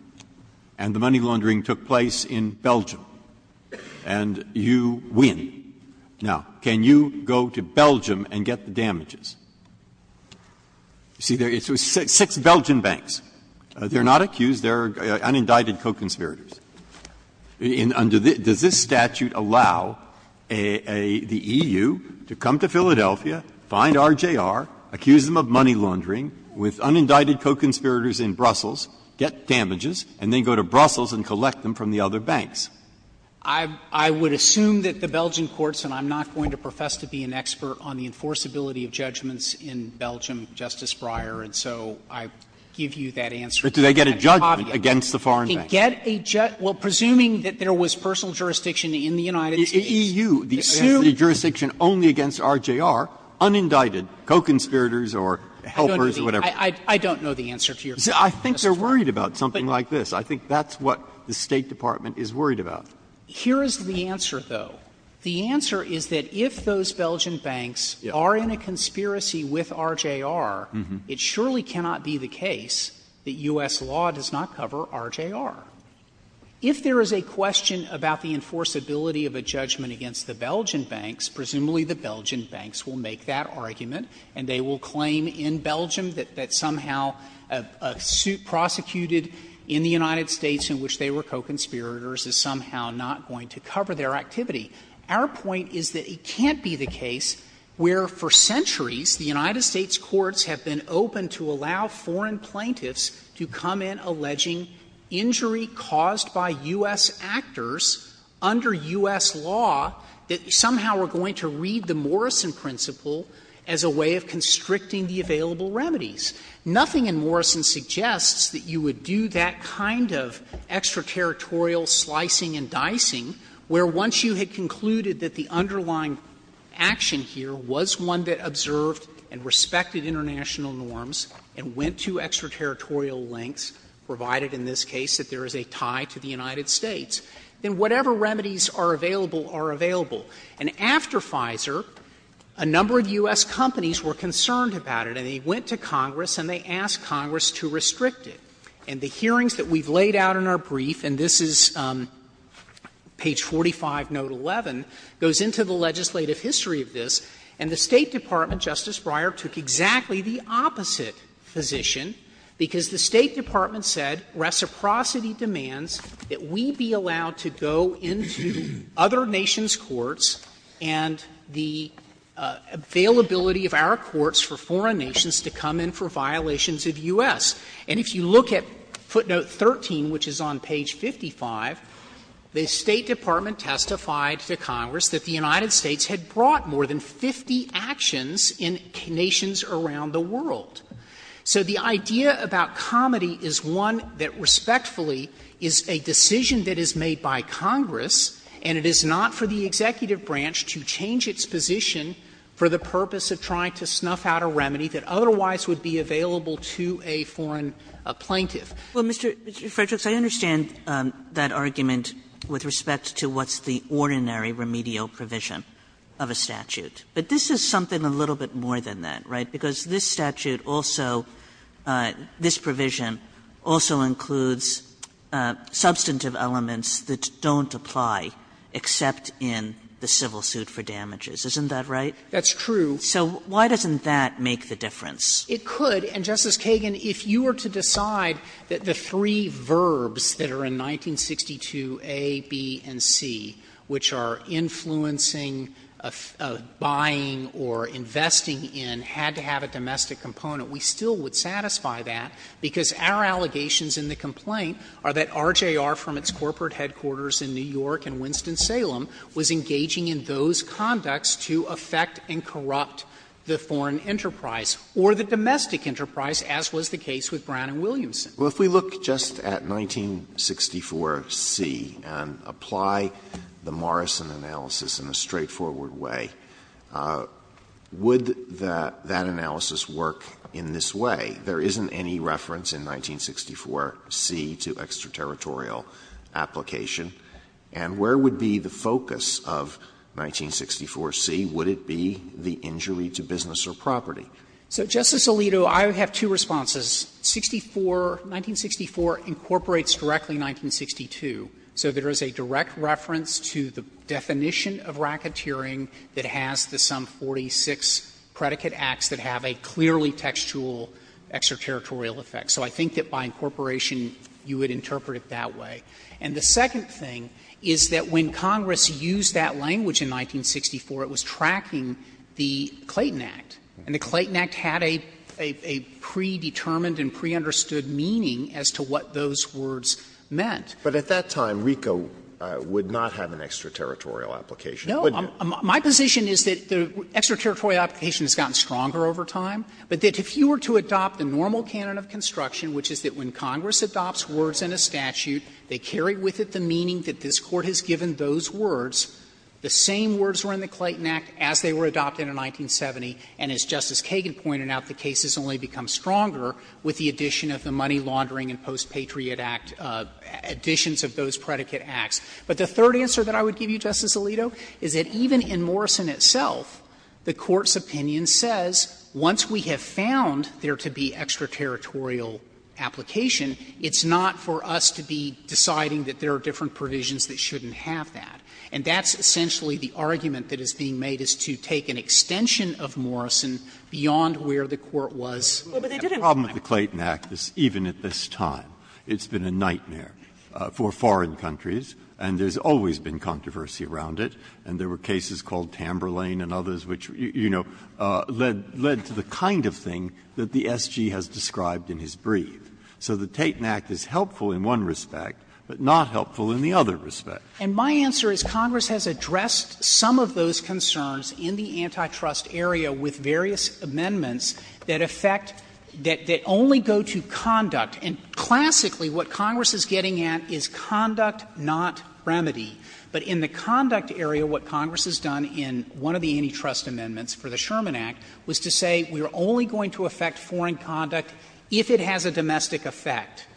And the money laundering took place in Belgium, and you win. Now, can you go to Belgium and get the damages? You see, there are six Belgian banks. They are not accused, they are unindicted co-conspirators. Breyer, does this statute allow the EU to come to Philadelphia, find RJR, accuse them of money laundering with unindicted co-conspirators in Brussels, get damages, and then go to Brussels and collect them from the other banks? I would assume that the Belgian courts, and I'm not going to profess to be an expert on the enforceability of judgments in Belgium, Justice Breyer, and so I give you that answer. Breyer, do they get a judgment against the foreign banks? They can get a judgment, well, presuming that there was personal jurisdiction in the United States. EU, the jurisdiction only against RJR, unindicted co-conspirators or helpers or whatever. I don't know the answer to your question, Justice Breyer. I think they are worried about something like this. I think that's what the State Department is worried about. Here is the answer, though. The answer is that if those Belgian banks are in a conspiracy with RJR, it surely cannot be the case that U.S. law does not cover RJR. If there is a question about the enforceability of a judgment against the Belgian banks, presumably the Belgian banks will make that argument and they will claim in Belgium that somehow a suit prosecuted in the United States in which they were co-conspirators is somehow not going to cover their activity. Our point is that it can't be the case where for centuries the United States courts have been open to allow foreign plaintiffs to come in alleging injury caused by U.S. actors under U.S. law that somehow are going to read the Morrison principle as a way of constricting the available remedies. Nothing in Morrison suggests that you would do that kind of extraterritorial slicing and dicing where once you had concluded that the underlying action here was one that observed and respected international norms and went to extraterritorial links, provided in this case that there is a tie to the United States, then whatever remedies are available are available. And after Pfizer, a number of U.S. companies were concerned about it and they went to Congress and they asked Congress to restrict it. And the hearings that we have laid out in our brief, and this is page 45, note 11, goes into the legislative history of this, and the State Department, Justice Breyer, took exactly the opposite position, because the State Department said reciprocity demands that we be allowed to go into other nations' courts and the availability of our courts for foreign nations to come in for violations of U.S. And if you look at footnote 13, which is on page 55, the State Department testified to Congress that the United States had brought more than 50 actions in nations around the world. So the idea about comedy is one that respectfully is a decision that is made by Congress, and it is not for the executive branch to change its position for the purpose of trying to snuff out a remedy that otherwise would be available to a foreign plaintiff. Kagan Well, Mr. Frederick, I understand that argument with respect to what's the ordinary remedial provision of a statute, but this is something a little bit more than that, right? Because this statute also – this provision also includes substantive elements that don't apply except in the civil suit for damages. Isn't that right? Frederick, That's true. Kagan So why doesn't that make the difference? Frederick, It could. And, Justice Kagan, if you were to decide that the three verbs that are in 1962A, B, and C, which are influencing, buying, or investing in, had to have a domestic component, we still would satisfy that, because our allegations in the complaint are that RJR from its corporate headquarters in New York and Winston-Salem was engaging in those conducts to affect and corrupt the foreign enterprise or the domestic enterprise, as was the case with Brown and Williamson. Alito Well, if we look just at 1964C and apply the Morrison analysis in a straightforward way, would that analysis work in this way? There isn't any reference in 1964C to extraterritorial application. And where would be the focus of 1964C? Would it be the injury to business or property? Frederick, So, Justice Alito, I have two responses. 64, 1964 incorporates directly 1962. So there is a direct reference to the definition of racketeering that has the sum 46 predicate acts that have a clearly textual extraterritorial effect. So I think that by incorporation you would interpret it that way. And the second thing is that when Congress used that language in 1964, it was tracking the Clayton Act. And the Clayton Act had a predetermined and pre-understood meaning as to what those words meant. Alito But at that time, RICO would not have an extraterritorial application, would it? Frederick, No. My position is that the extraterritorial application has gotten stronger over time, but that if you were to adopt the normal canon of construction, which is that when you carry with it the meaning that this Court has given those words, the same words were in the Clayton Act as they were adopted in 1970. And as Justice Kagan pointed out, the case has only become stronger with the addition of the Money Laundering and Post-Patriot Act additions of those predicate acts. But the third answer that I would give you, Justice Alito, is that even in Morrison itself, the Court's opinion says once we have found there to be extraterritorial application, it's not for us to be deciding that there are different provisions that shouldn't have that. And that's essentially the argument that is being made, is to take an extension of Morrison beyond where the Court was at the time. Breyer But the problem with the Clayton Act is even at this time, it's been a nightmare for foreign countries, and there's always been controversy around it. And there were cases called Tamberlane and others which, you know, led to the kind of thing that the SG has described in his brief. So the Clayton Act is helpful in one respect, but not helpful in the other respect. Frederick And my answer is Congress has addressed some of those concerns in the antitrust area with various amendments that affect that only go to conduct. And classically, what Congress is getting at is conduct, not remedy. But in the conduct area, what Congress has done in one of the antitrust amendments for the Sherman Act was to say we are only going to affect foreign conduct if it has a domestic effect.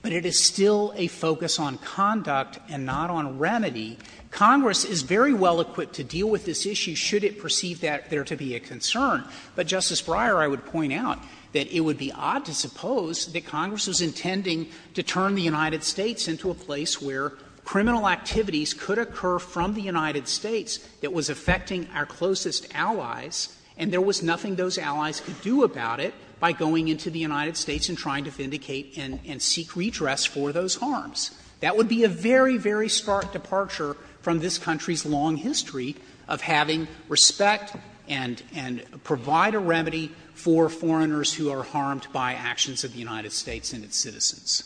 But it is still a focus on conduct and not on remedy. Congress is very well equipped to deal with this issue should it perceive that there to be a concern. But, Justice Breyer, I would point out that it would be odd to suppose that Congress was intending to turn the United States into a place where criminal activities could occur from the United States that was affecting our closest allies, and there was nothing those allies could do about it by going into the United States and trying to vindicate and seek redress for those harms. That would be a very, very stark departure from this country's long history of having respect and provide a remedy for foreigners who are harmed by actions of the United States and its citizens.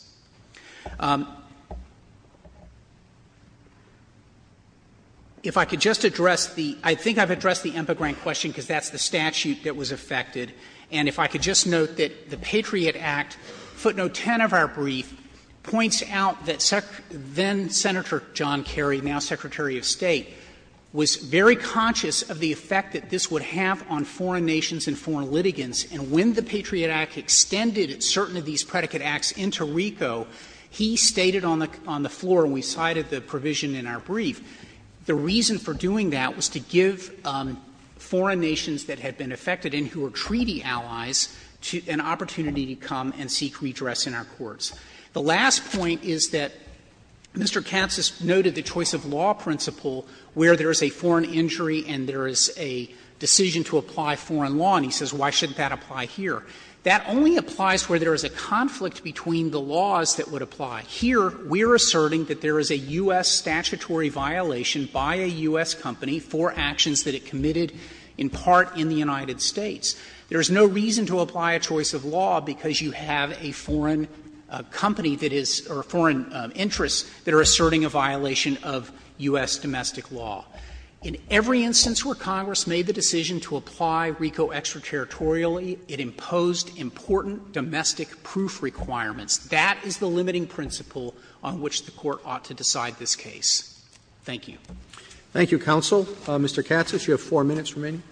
If I could just address the — I think I've addressed the Impegrant question because that's the statute that was affected. And if I could just note that the Patriot Act, footnote 10 of our brief, points out that then-Senator John Kerry, now Secretary of State, was very conscious of the effect that this would have on foreign nations and foreign litigants. And when the Patriot Act extended certain of these predicate acts into RICO, he stated on the floor, and we cited the provision in our brief, the reason for doing that was to give foreign nations that had been affected and who were treaty allies an opportunity to come and seek redress in our courts. The last point is that Mr. Katsas noted the choice of law principle where there is a foreign injury and there is a decision to apply foreign law, and he says, why shouldn't that apply here? That only applies where there is a conflict between the laws that would apply. Here, we are asserting that there is a U.S. statutory violation by a U.S. company for actions that it committed in part in the United States. There is no reason to apply a choice of law because you have a foreign company that is — or foreign interests that are asserting a violation of U.S. domestic law. In every instance where Congress made the decision to apply RICO extraterritorially, it imposed important domestic proof requirements. That is the limiting principle on which the Court ought to decide this case. Thank you. Roberts. Thank you, counsel. Mr. Katsas, you have 4 minutes remaining.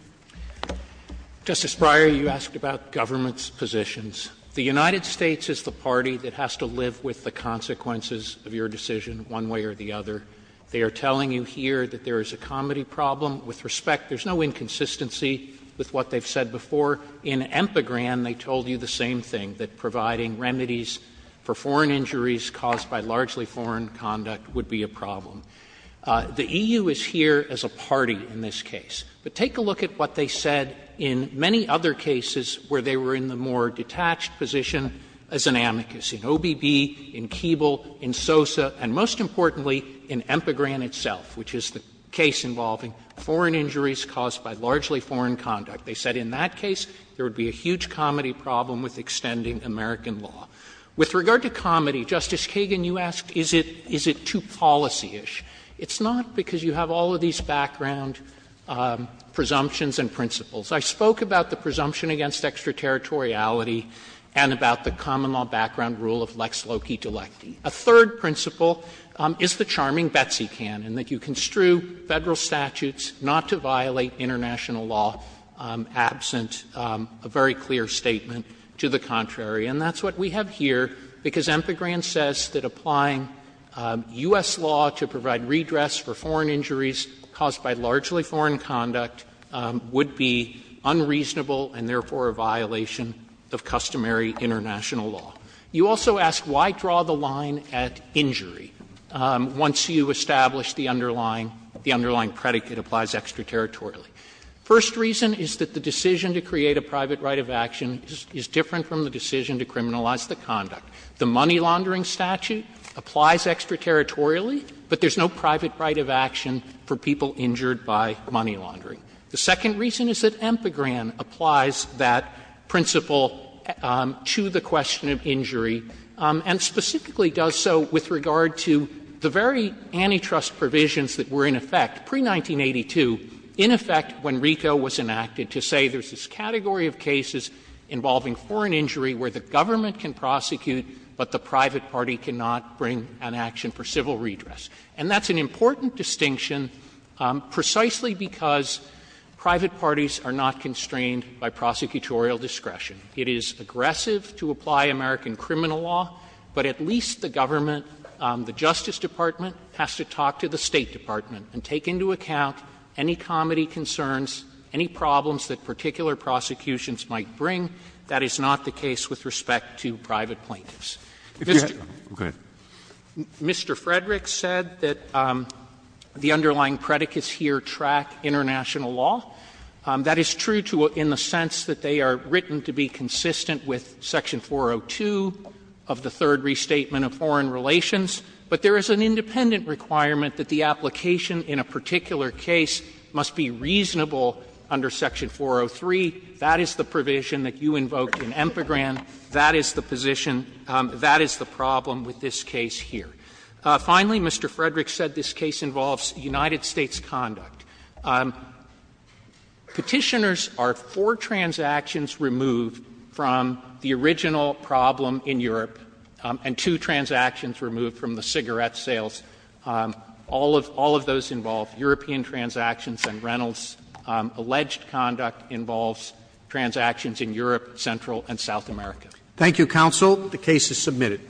Justice Breyer, you asked about government's positions. The United States is the party that has to live with the consequences of your decision one way or the other. They are telling you here that there is a comedy problem. With respect, there is no inconsistency with what they have said before. In EMPAgran, they told you the same thing, that providing remedies for foreign injuries caused by largely foreign conduct would be a problem. The EU is here as a party in this case. But take a look at what they said in many other cases where they were in the more detached position as an amicus, in OBB, in Keeble, in SOSA, and most importantly in EMPAgran itself, which is the case involving foreign injuries caused by largely foreign conduct. They said in that case there would be a huge comedy problem with extending American law. With regard to comedy, Justice Kagan, you asked is it too policy-ish. It's not, because you have all of these background presumptions and principles. I spoke about the presumption against extraterritoriality and about the common law background rule of lex loci delecti. A third principle is the charming Betsy canon, that you construe Federal statutes not to violate international law absent a very clear statement to the contrary. And that's what we have here, because EMPAgran says that applying U.S. law to provide redress for foreign injuries caused by largely foreign conduct would be unreasonable and therefore a violation of customary international law. You also ask why draw the line at injury once you establish the underlying the underlying predicate applies extraterritorially. First reason is that the decision to create a private right of action is different from the decision to criminalize the conduct. The money laundering statute applies extraterritorially, but there's no private right of action for people injured by money laundering. The second reason is that EMPAgran applies that principle to the question of injury and specifically does so with regard to the very antitrust provisions that were in effect pre-1982, in effect when RICO was enacted, to say there's this category of cases involving foreign injury where the government can prosecute, but the private party cannot bring an action for civil redress. And that's an important distinction precisely because private parties are not constrained by prosecutorial discretion. It is aggressive to apply American criminal law, but at least the government, the Justice Department, has to talk to the State Department and take into account any comedy concerns, any problems that particular prosecutions might bring. That is not the case with respect to private plaintiffs. Mr. Roberts. Mr. Frederick said that the underlying predicates here track international law. That is true in the sense that they are written to be consistent with Section 402 of the Third Restatement of Foreign Relations, but there is an independent requirement that the application in a particular case must be reasonable under Section 403. That is the provision that you invoked in EMPAgran. That is the position, that is the problem with this case here. Finally, Mr. Frederick said this case involves United States conduct. Petitioners are four transactions removed from the original problem in Europe and two transactions removed from the cigarette sales. All of those involve European transactions and Reynolds. Alleged conduct involves transactions in Europe, Central and South America. Roberts. Thank you, counsel. The case is submitted.